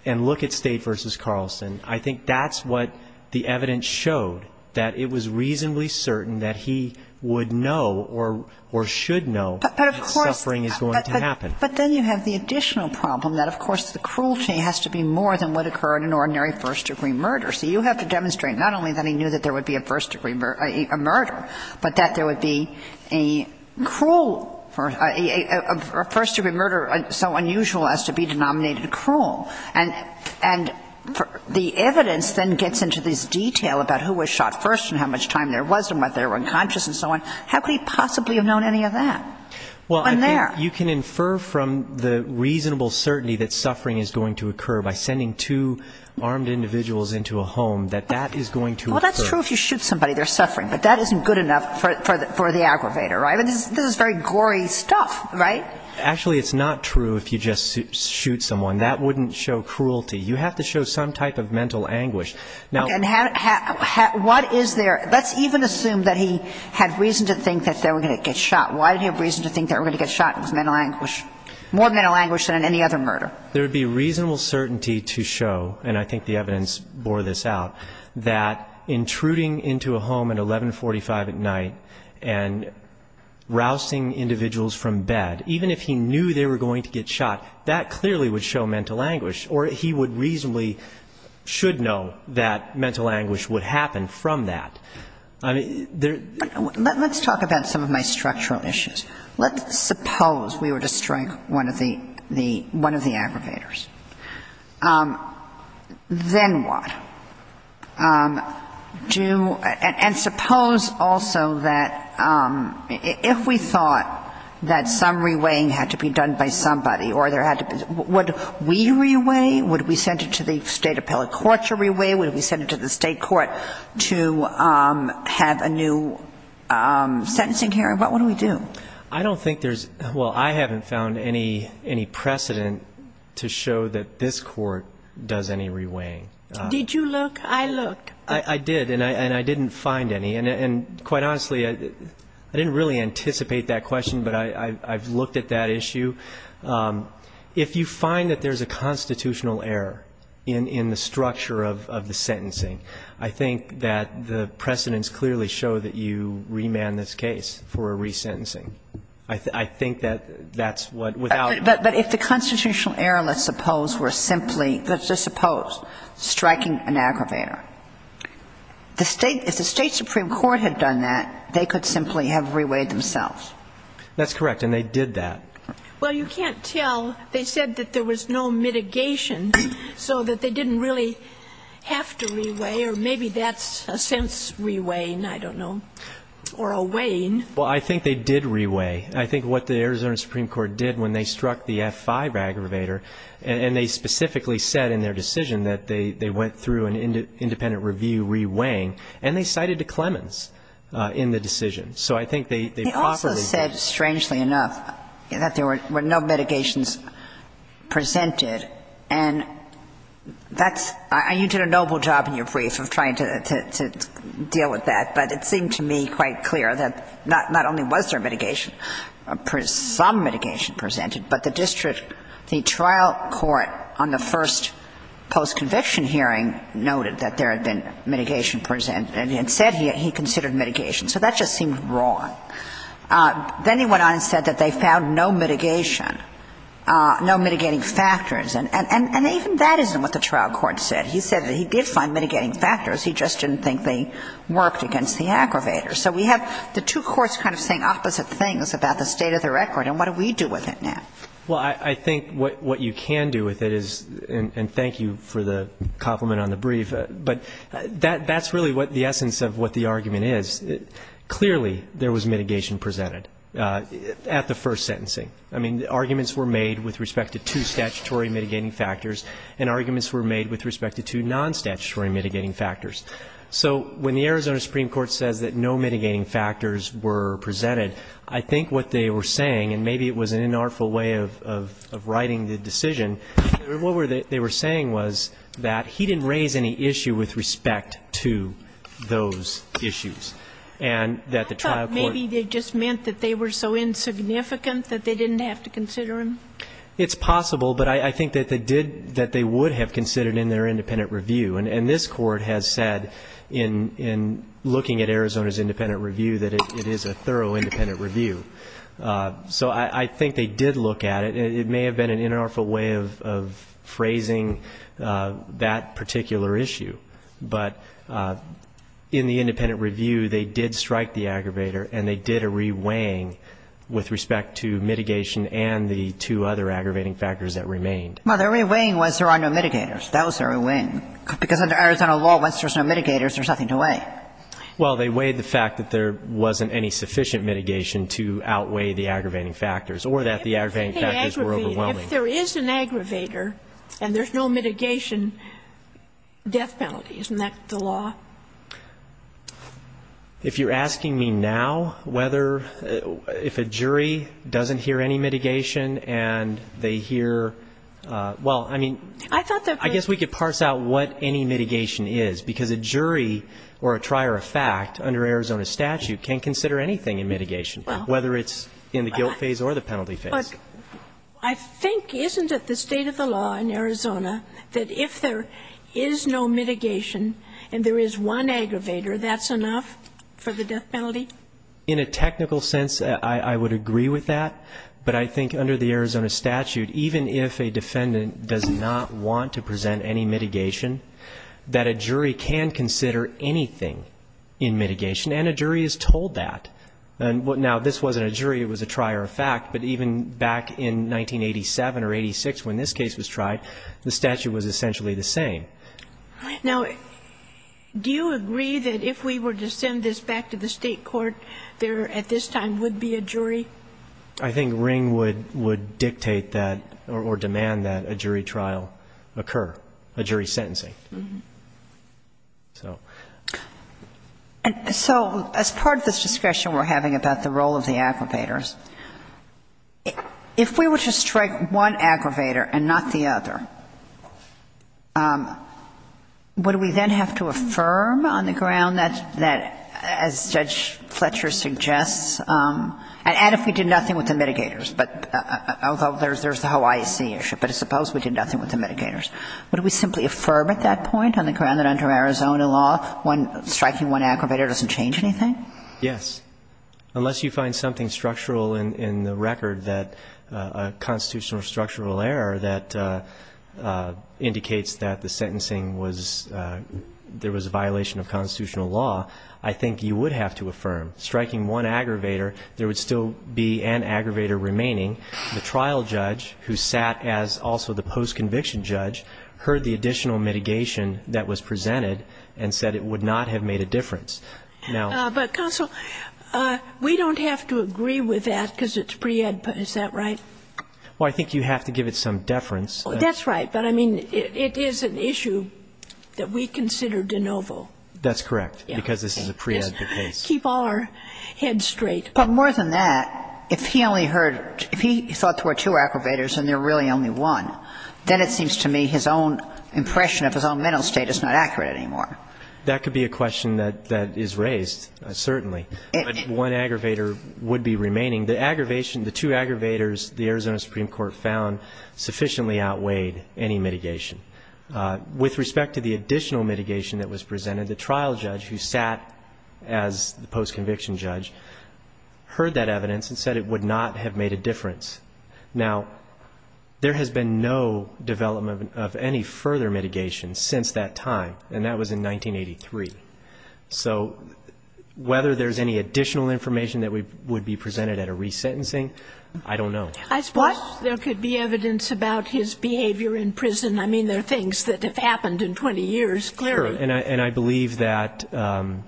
and look at State v. Carlson, I think that's what the evidence showed, that it was reasonably certain that he would know or should know that suffering is going to happen. But then you have the additional problem that, of course, the cruelty has to be more than would occur in an ordinary first-degree murder. So you have to demonstrate not only that he knew that there would be a first-degree murder, but that there would be a cruel first-degree murder so unusual as to be denominated cruel. And the evidence then gets into this detail about who was shot first and how much time there was and whether they were unconscious and so on. How could he possibly have known any of that? Well, I think you can infer from the reasonable certainty that suffering is going to occur by sending two armed individuals into a home, that that is going to occur. Well, that's true if you shoot somebody, there's suffering. But that isn't good enough for the aggravator, right? I mean, this is very gory stuff, right? Actually, it's not true if you just shoot someone. That wouldn't show cruelty. You have to show some type of mental anguish. And what is there? Let's even assume that he had reason to think that they were going to get shot. Why did he have reason to think they were going to get shot? It was mental anguish, more mental anguish than in any other murder. There would be reasonable certainty to show, and I think the evidence bore this out, that intruding into a home at 1145 at night and rousing individuals from bed, even if he knew they were going to get shot, that clearly would show mental anguish. Or he would reasonably, should know that mental anguish would happen from that. I mean, there are... Let's talk about some of my structural issues. Let's suppose we were to strike one of the aggravators. Then what? And suppose also that if we thought that some reweighing had to be done by somebody, or there had to be... Would we reweigh? Would we send it to the state appellate court to reweigh? Would we send it to the state court to have a new sentencing hearing? What would we do? I don't think there's... Well, I haven't found any precedent to show that this court does any reweighing. Did you look? I looked. I did, and I didn't find any. And quite honestly, I didn't really anticipate that question, but I've looked at that issue. If you find that there's a constitutional error in the structure of the sentencing, I think that the precedents clearly show that you remand this case for a resentencing. I think that that's what, without... But if the constitutional error, let's suppose, were simply, let's just suppose, striking an aggravator, if the state supreme court had done that, they could simply have reweighed themselves. That's correct, and they did that. Well, you can't tell. Well, they said that there was no mitigation, so that they didn't really have to reweigh, or maybe that's a sense reweighing, I don't know, or a weighing. Well, I think they did reweigh. I think what the Arizona Supreme Court did when they struck the F-5 aggravator, and they specifically said in their decision that they went through an independent review reweighing, and they cited a Clemens in the decision. So I think they properly... They also said, strangely enough, that there were no mitigations presented, and that's – you did a noble job in your brief of trying to deal with that, but it seemed to me quite clear that not only was there mitigation, some mitigation presented, but the district, the trial court on the first post-conviction hearing noted that there had been mitigation presented and said he considered mitigation. So that just seemed wrong. Then he went on and said that they found no mitigation, no mitigating factors, and even that isn't what the trial court said. He said that he did find mitigating factors. He just didn't think they worked against the aggravator. So we have the two courts kind of saying opposite things about the state of the record, and what do we do with it now? Well, I think what you can do with it is, and thank you for the compliment on the brief, but that's really what the essence of what the argument is. Clearly, there was mitigation presented at the first sentencing. I mean, arguments were made with respect to two statutory mitigating factors and arguments were made with respect to two non-statutory mitigating factors. So when the Arizona Supreme Court says that no mitigating factors were presented, I think what they were saying, and maybe it was an inartful way of writing the decision, what they were saying was that he didn't raise any issue with respect to those issues and that the trial court. I thought maybe they just meant that they were so insignificant that they didn't have to consider him. It's possible, but I think that they did, that they would have considered in their independent review. And this Court has said in looking at Arizona's independent review that it is a thorough independent review. So I think they did look at it. It may have been an inartful way of phrasing that particular issue, but in the independent review, they did strike the aggravator and they did a reweighing with respect to mitigation and the two other aggravating factors that remained. Well, their reweighing was there are no mitigators. That was their reweighing, because under Arizona law, once there's no mitigators, there's nothing to weigh. Well, they weighed the fact that there wasn't any sufficient mitigation to outweigh the aggravating factors or that the aggravating factors were overwhelming. If there is an aggravator and there's no mitigation, death penalty. Isn't that the law? If you're asking me now whether, if a jury doesn't hear any mitigation and they hear, well, I mean, I guess we could parse out what any mitigation is, because a jury or a trier of fact under Arizona statute can consider anything in mitigation, whether it's in the guilt phase or the penalty phase. But I think, isn't it the state of the law in Arizona that if there is no mitigation and there is one aggravator, that's enough for the death penalty? In a technical sense, I would agree with that. But I think under the Arizona statute, even if a defendant does not want to present any mitigation, that a jury can consider anything in mitigation. And a jury is told that. Now, this wasn't a jury. It was a trier of fact. But even back in 1987 or 86 when this case was tried, the statute was essentially the same. Now, do you agree that if we were to send this back to the State court, there at this time would be a jury? I think Ring would dictate that or demand that a jury trial occur, a jury sentencing. So as part of this discussion we're having about the role of the aggravators, if we were to strike one aggravator and not the other, would we then have to affirm on the ground that, as Judge Fletcher suggests, and if we did nothing with the mitigators, although there's the whole IEC issue, but suppose we did nothing with the mitigators, would we simply affirm at that point on the ground that under Arizona law, striking one aggravator doesn't change anything? Yes. Unless you find something structural in the record that a constitutional or structural error that indicates that the sentencing was, there was a violation of constitutional law, I think you would have to affirm. Striking one aggravator, there would still be an aggravator remaining. The trial judge who sat as also the post-conviction judge heard the additional mitigation that was presented and said it would not have made a difference. But, counsel, we don't have to agree with that because it's pre-ed, is that right? Well, I think you have to give it some deference. That's right. But, I mean, it is an issue that we consider de novo. That's correct, because this is a pre-ed case. Keep all our heads straight. But more than that, if he only heard, if he thought there were two aggravators and there really only one, then it seems to me his own impression of his own mental state is not accurate anymore. That could be a question that is raised, certainly. But one aggravator would be remaining. The aggravation, the two aggravators the Arizona Supreme Court found sufficiently outweighed any mitigation. With respect to the additional mitigation that was presented, the trial judge who was the post-conviction judge heard that evidence and said it would not have made a difference. Now, there has been no development of any further mitigation since that time, and that was in 1983. So whether there's any additional information that would be presented at a resentencing, I don't know. I suppose there could be evidence about his behavior in prison. I mean, there are things that have happened in 20 years, clearly. And I believe that a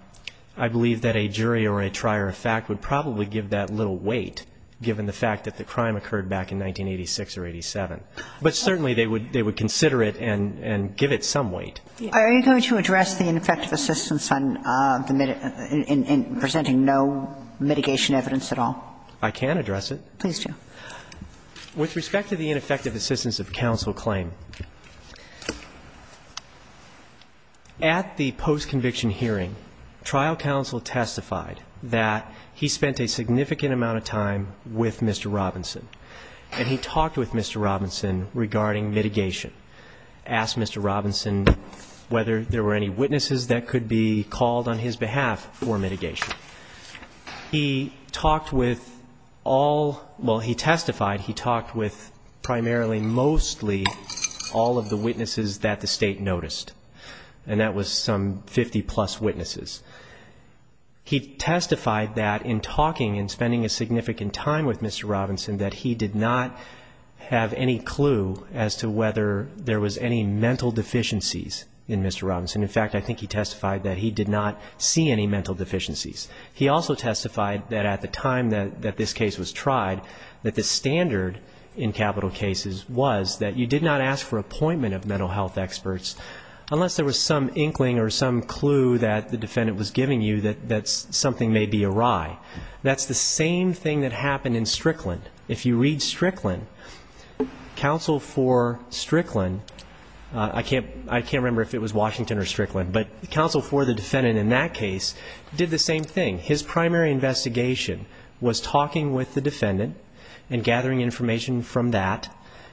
jury or a trier of fact would probably give that little weight given the fact that the crime occurred back in 1986 or 87. But certainly they would consider it and give it some weight. Are you going to address the ineffective assistance in presenting no mitigation evidence at all? I can address it. Please do. With respect to the ineffective assistance of counsel claim, at the post-conviction hearing, trial counsel testified that he spent a significant amount of time with Mr. Robinson, and he talked with Mr. Robinson regarding mitigation, asked Mr. Robinson whether there were any witnesses that could be called on his behalf for mitigation. He talked with all, well, he testified he talked with primarily mostly all of the witnesses that the State noticed, and that was some 50-plus witnesses. He testified that in talking and spending a significant time with Mr. Robinson, that he did not have any clue as to whether there was any mental deficiencies in Mr. Robinson. In fact, I think he testified that he did not see any mental deficiencies. He also testified that at the time that this case was tried, that the standard in capital cases was that you did not ask for appointment of mental health experts unless there was some inkling or some clue that the defendant was giving you that something may be awry. That's the same thing that happened in Strickland. If you read Strickland, counsel for Strickland, I can't remember if it was Washington or Strickland, but counsel for the defendant in that case did the same thing. His primary investigation was talking with the defendant and gathering information from that.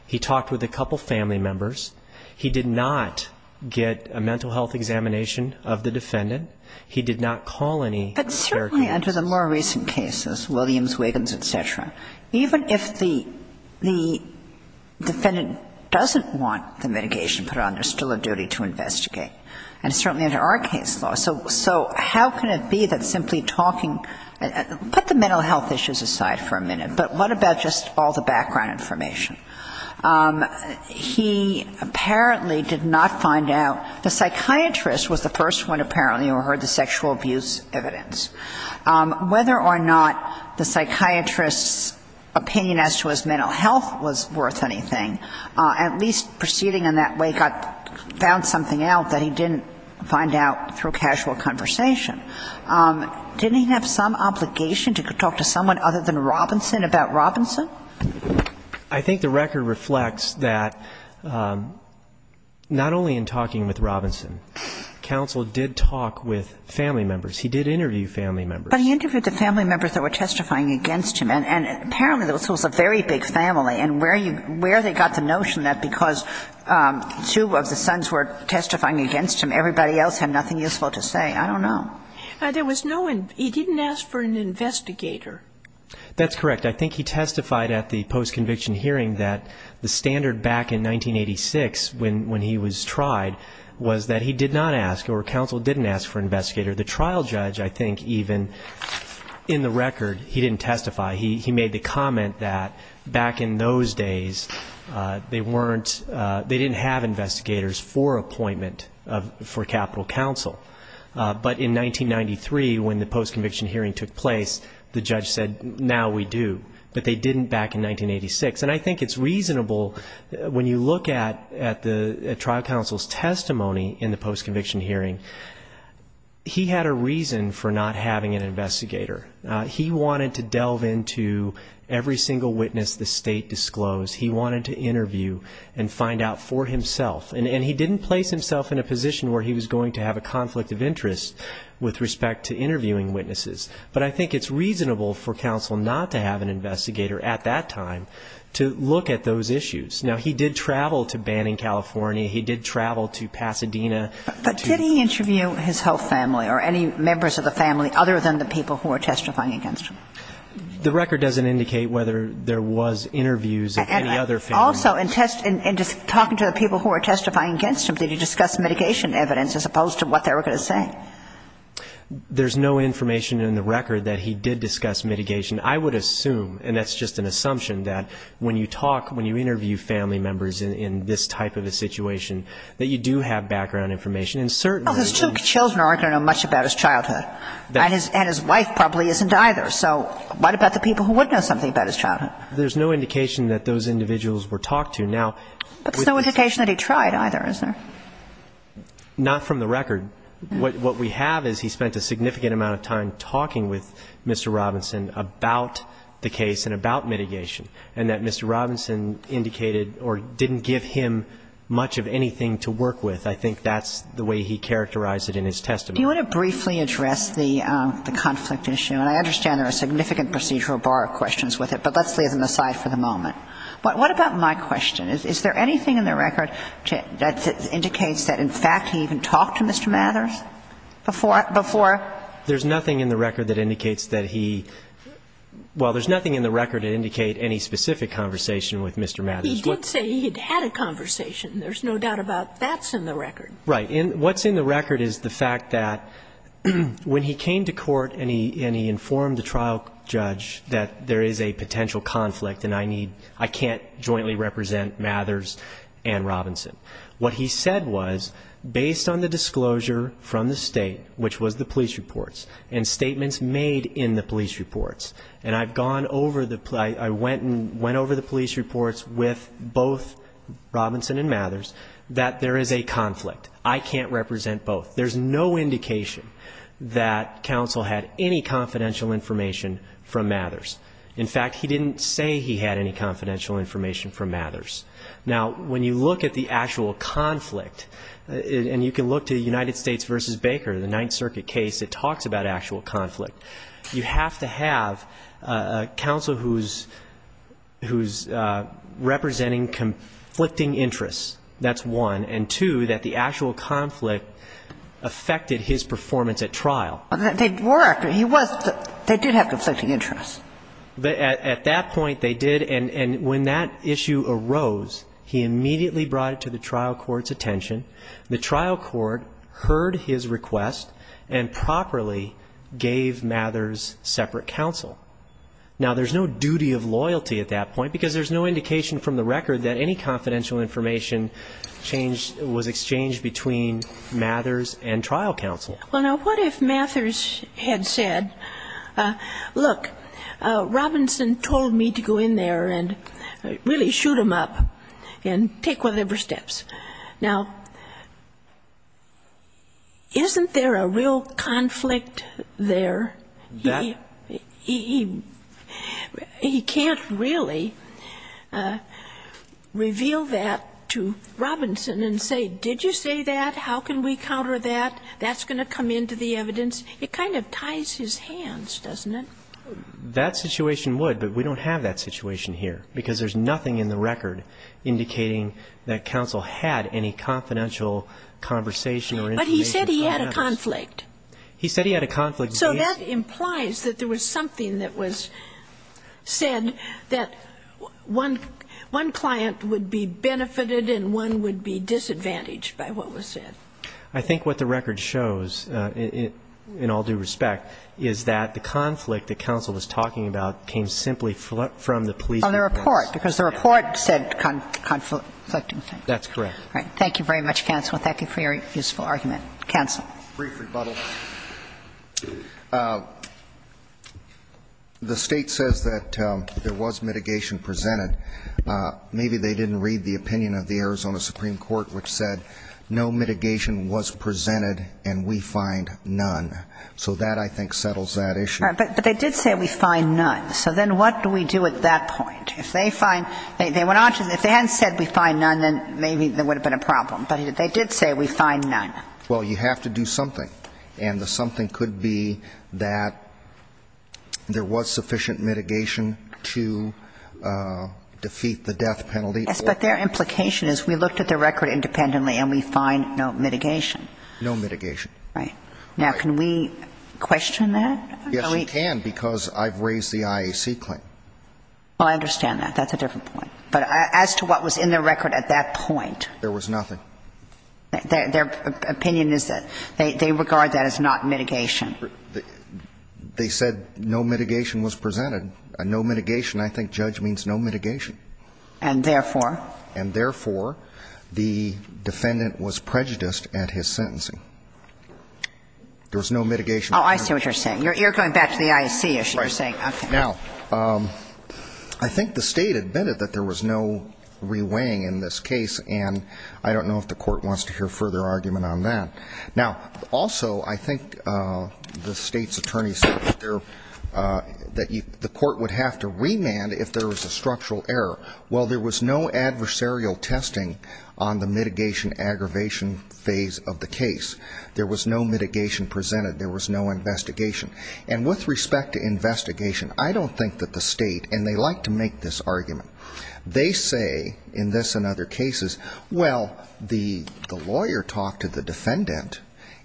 He talked with a couple family members. He did not get a mental health examination of the defendant. He did not call any caregivers. But certainly under the more recent cases, Williams, Wiggins, et cetera, even if the mental health issues aside for a minute, but what about just all the background information? He apparently did not find out. The psychiatrist was the first one apparently who heard the sexual abuse evidence. Whether or not the psychiatrist's opinion as to his mental health was worth anything, at least proceeding in that way, found something out that he could find out through casual conversation. Didn't he have some obligation to talk to someone other than Robinson about Robinson? I think the record reflects that not only in talking with Robinson, counsel did talk with family members. He did interview family members. But he interviewed the family members that were testifying against him. And apparently this was a very big family. And where they got the notion that because two of the sons were testifying against him, everybody else had nothing useful to say. I don't know. There was no one. He didn't ask for an investigator. That's correct. I think he testified at the post-conviction hearing that the standard back in 1986 when he was tried was that he did not ask or counsel didn't ask for an investigator. The trial judge, I think, even in the record, he didn't testify. He made the comment that back in those days they weren't, they didn't have investigators for appointment for capital counsel. But in 1993, when the post-conviction hearing took place, the judge said, now we do. But they didn't back in 1986. And I think it's reasonable, when you look at the trial counsel's testimony in the post-conviction hearing, he had a reason for not having an investigator. He wanted to delve into every single witness the State disclosed. He wanted to interview and find out for himself. And he didn't place himself in a position where he was going to have a conflict of interest with respect to interviewing witnesses. But I think it's reasonable for counsel not to have an investigator at that time to look at those issues. Now, he did travel to Banning, California. He did travel to Pasadena. But did he interview his whole family or any members of the family other than the people who were testifying against him? The record doesn't indicate whether there was interviews of any other family members. And also, in talking to the people who were testifying against him, did he discuss mitigation evidence as opposed to what they were going to say? There's no information in the record that he did discuss mitigation. I would assume, and that's just an assumption, that when you talk, when you interview family members in this type of a situation, that you do have background information. And certainly he did. But I don't know much about his childhood. And his wife probably isn't either. So what about the people who would know something about his childhood? There's no indication that those individuals were talked to. But there's no indication that he tried either, is there? Not from the record. What we have is he spent a significant amount of time talking with Mr. Robinson about the case and about mitigation, and that Mr. Robinson indicated or didn't give him much of anything to work with. I think that's the way he characterized it in his testimony. Do you want to briefly address the conflict issue? And I understand there are significant procedural bar questions with it, but let's leave them aside for the moment. But what about my question? Is there anything in the record that indicates that, in fact, he even talked to Mr. Mathers before? There's nothing in the record that indicates that he – well, there's nothing in the record that indicates any specific conversation with Mr. Mathers. He did say he had had a conversation. There's no doubt about that's in the record. Right. What's in the record is the fact that when he came to court and he informed the trial judge that there is a potential conflict and I need – I can't jointly represent Mathers and Robinson. What he said was, based on the disclosure from the State, which was the police reports, and statements made in the police reports, and I've gone over the – I went and went over the police reports with both Robinson and Mathers, that there is a conflict. I can't represent both. There's no indication that counsel had any confidential information from Mathers. In fact, he didn't say he had any confidential information from Mathers. Now, when you look at the actual conflict, and you can look to the United States versus Baker, the Ninth Circuit case, it talks about actual conflict. You have to have a counsel who's – who's representing conflicting interests. That's one. And two, that the actual conflict affected his performance at trial. They were. He was – they did have conflicting interests. At that point, they did. And when that issue arose, he immediately brought it to the trial court's attention. The trial court heard his request and properly gave Mathers separate counsel. Now, there's no duty of loyalty at that point, because there's no indication from the record that any confidential information changed – was exchanged between Mathers and trial counsel. Well, now, what if Mathers had said, look, Robinson told me to go in there and really shoot him up and take whatever steps. Now, isn't there a real conflict there? He can't really reveal that to Robinson and say, did you say that? How can we counter that? That's going to come into the evidence. It kind of ties his hands, doesn't it? That situation would, but we don't have that situation here, because there's nothing in the record indicating that counsel had any confidential conversation or information about Mathers. But he said he had a conflict. He said he had a conflict. So that implies that there was something that was said that one client would be benefited and one would be disadvantaged by what was said. I think what the record shows, in all due respect, is that the conflict that counsel was talking about came simply from the police department. On the report, because the report said conflicting things. That's correct. Thank you very much, counsel, and thank you for your useful argument. Counsel. Brief rebuttal. The State says that there was mitigation presented. Maybe they didn't read the opinion of the Arizona Supreme Court, which said no mitigation was presented and we find none. So that, I think, settles that issue. But they did say we find none. So then what do we do at that point? If they hadn't said we find none, then maybe there would have been a problem. But they did say we find none. Well, you have to do something. And the something could be that there was sufficient mitigation to defeat the death penalty. Yes, but their implication is we looked at the record independently and we find no mitigation. No mitigation. Right. Now, can we question that? Yes, you can, because I've raised the IAC claim. Well, I understand that. That's a different point. But as to what was in the record at that point. There was nothing. Their opinion is that they regard that as not mitigation. They said no mitigation was presented. No mitigation. I think judge means no mitigation. And therefore? And therefore, the defendant was prejudiced at his sentencing. There was no mitigation. Oh, I see what you're saying. You're going back to the IAC issue. Right. Okay. Now, I think the State admitted that there was no reweighing in this case. And I don't know if the Court wants to hear further argument on that. Now, also, I think the State's attorney said that the Court would have to remand if there was a structural error. Well, there was no adversarial testing on the mitigation aggravation phase of the case. There was no mitigation presented. There was no investigation. And with respect to investigation, I don't think that the State, and they like to make this argument, they say in this and other cases, well, the lawyer talked to the defendant,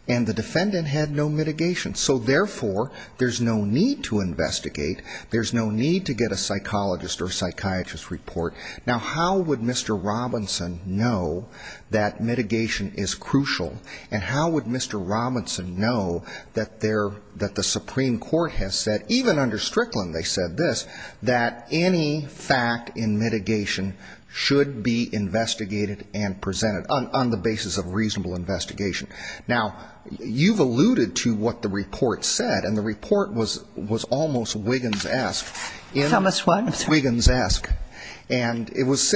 and the defendant had no mitigation. So, therefore, there's no need to investigate. There's no need to get a psychologist or a psychiatrist's report. Now, how would Mr. Robinson know that mitigation is crucial? And how would Mr. Robinson know that the Supreme Court has said, even under Strickland they said this, that any fact in mitigation should be investigated and presented on the basis of reasonable investigation? Now, you've alluded to what the report said, and the report was almost Wiggins-esque. Thomas, what? Wiggins-esque. And it was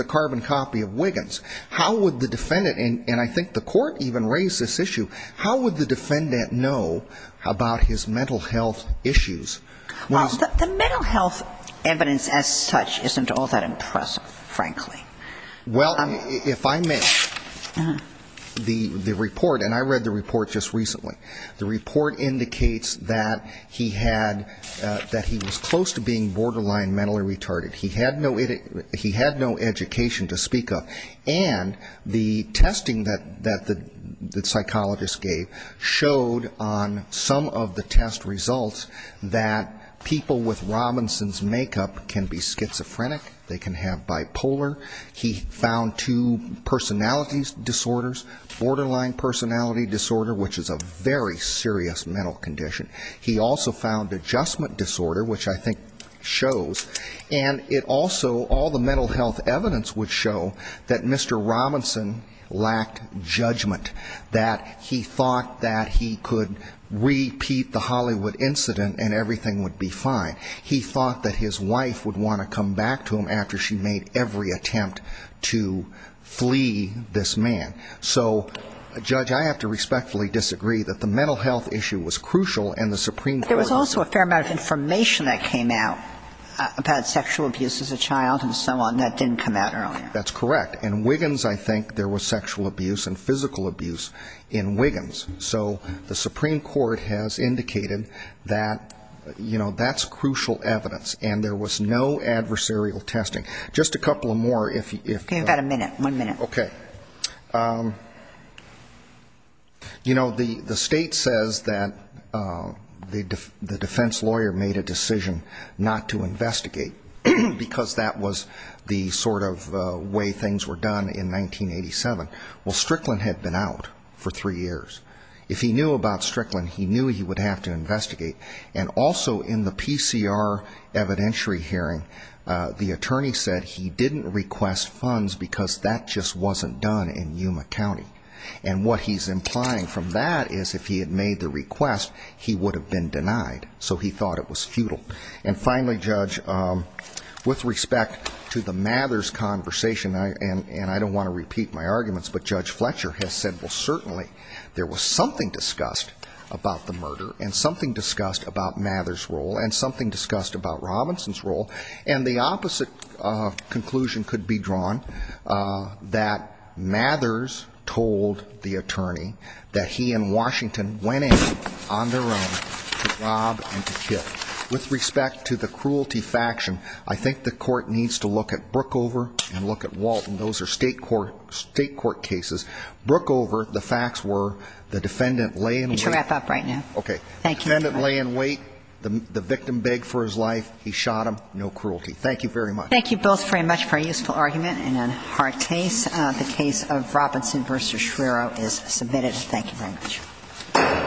a carbon copy of Wiggins. How would the defendant, and I think the court even raised this issue, how would the defendant know about his mental health issues? Well, the mental health evidence as such isn't all that impressive, frankly. Well, if I may, the report, and I read the report just recently, the report indicates that he had, that he was close to being borderline mentally retarded. He had no education to speak of. And the testing that the psychologist gave showed on some of the test results that people with Robinson's makeup can be schizophrenic, they can have bipolar. He found two personality disorders, borderline personality disorder, which is a very serious mental condition. He also found adjustment disorder, which I think shows. And it also, all the mental health evidence would show that Mr. Robinson lacked judgment, that he thought that he could repeat the Hollywood incident and everything would be fine. He thought that his wife would want to come back to him after she made every attempt to flee this man. So, Judge, I have to respectfully disagree that the mental health issue was crucial and the Supreme Court also. But there's also a fair amount of information that came out about sexual abuse as a child and so on that didn't come out earlier. That's correct. In Wiggins, I think, there was sexual abuse and physical abuse in Wiggins. So the Supreme Court has indicated that, you know, that's crucial evidence. And there was no adversarial testing. Just a couple more. Give me about a minute, one minute. Okay. You know, the state says that the defense lawyer made a decision not to investigate because that was the sort of way things were done in 1987. Well, Strickland had been out for three years. If he knew about Strickland, he knew he would have to investigate. And also in the PCR evidentiary hearing, the attorney said he didn't request funds because that just wasn't done in Yuma County. And what he's implying from that is if he had made the request, he would have been denied. So he thought it was futile. And finally, Judge, with respect to the Mathers conversation, and I don't want to repeat my arguments, but Judge Fletcher has said, well, certainly there was something discussed about the murder and something discussed about Mathers' role and something discussed about Robinson's role. And the opposite conclusion could be drawn, that Mathers told the attorney that he and Washington went in on their own to rob and to kill. With respect to the cruelty faction, I think the court needs to look at Brookover and look at Walton. Those are state court cases. Brookover, the facts were the defendant lay in wait. You need to wrap up right now. Okay. Thank you. The defendant lay in wait. The victim begged for his life. He shot him. No cruelty. Thank you very much. Thank you both very much for a useful argument and a hard case. The case of Robinson v. Shrero is submitted. Thank you very much.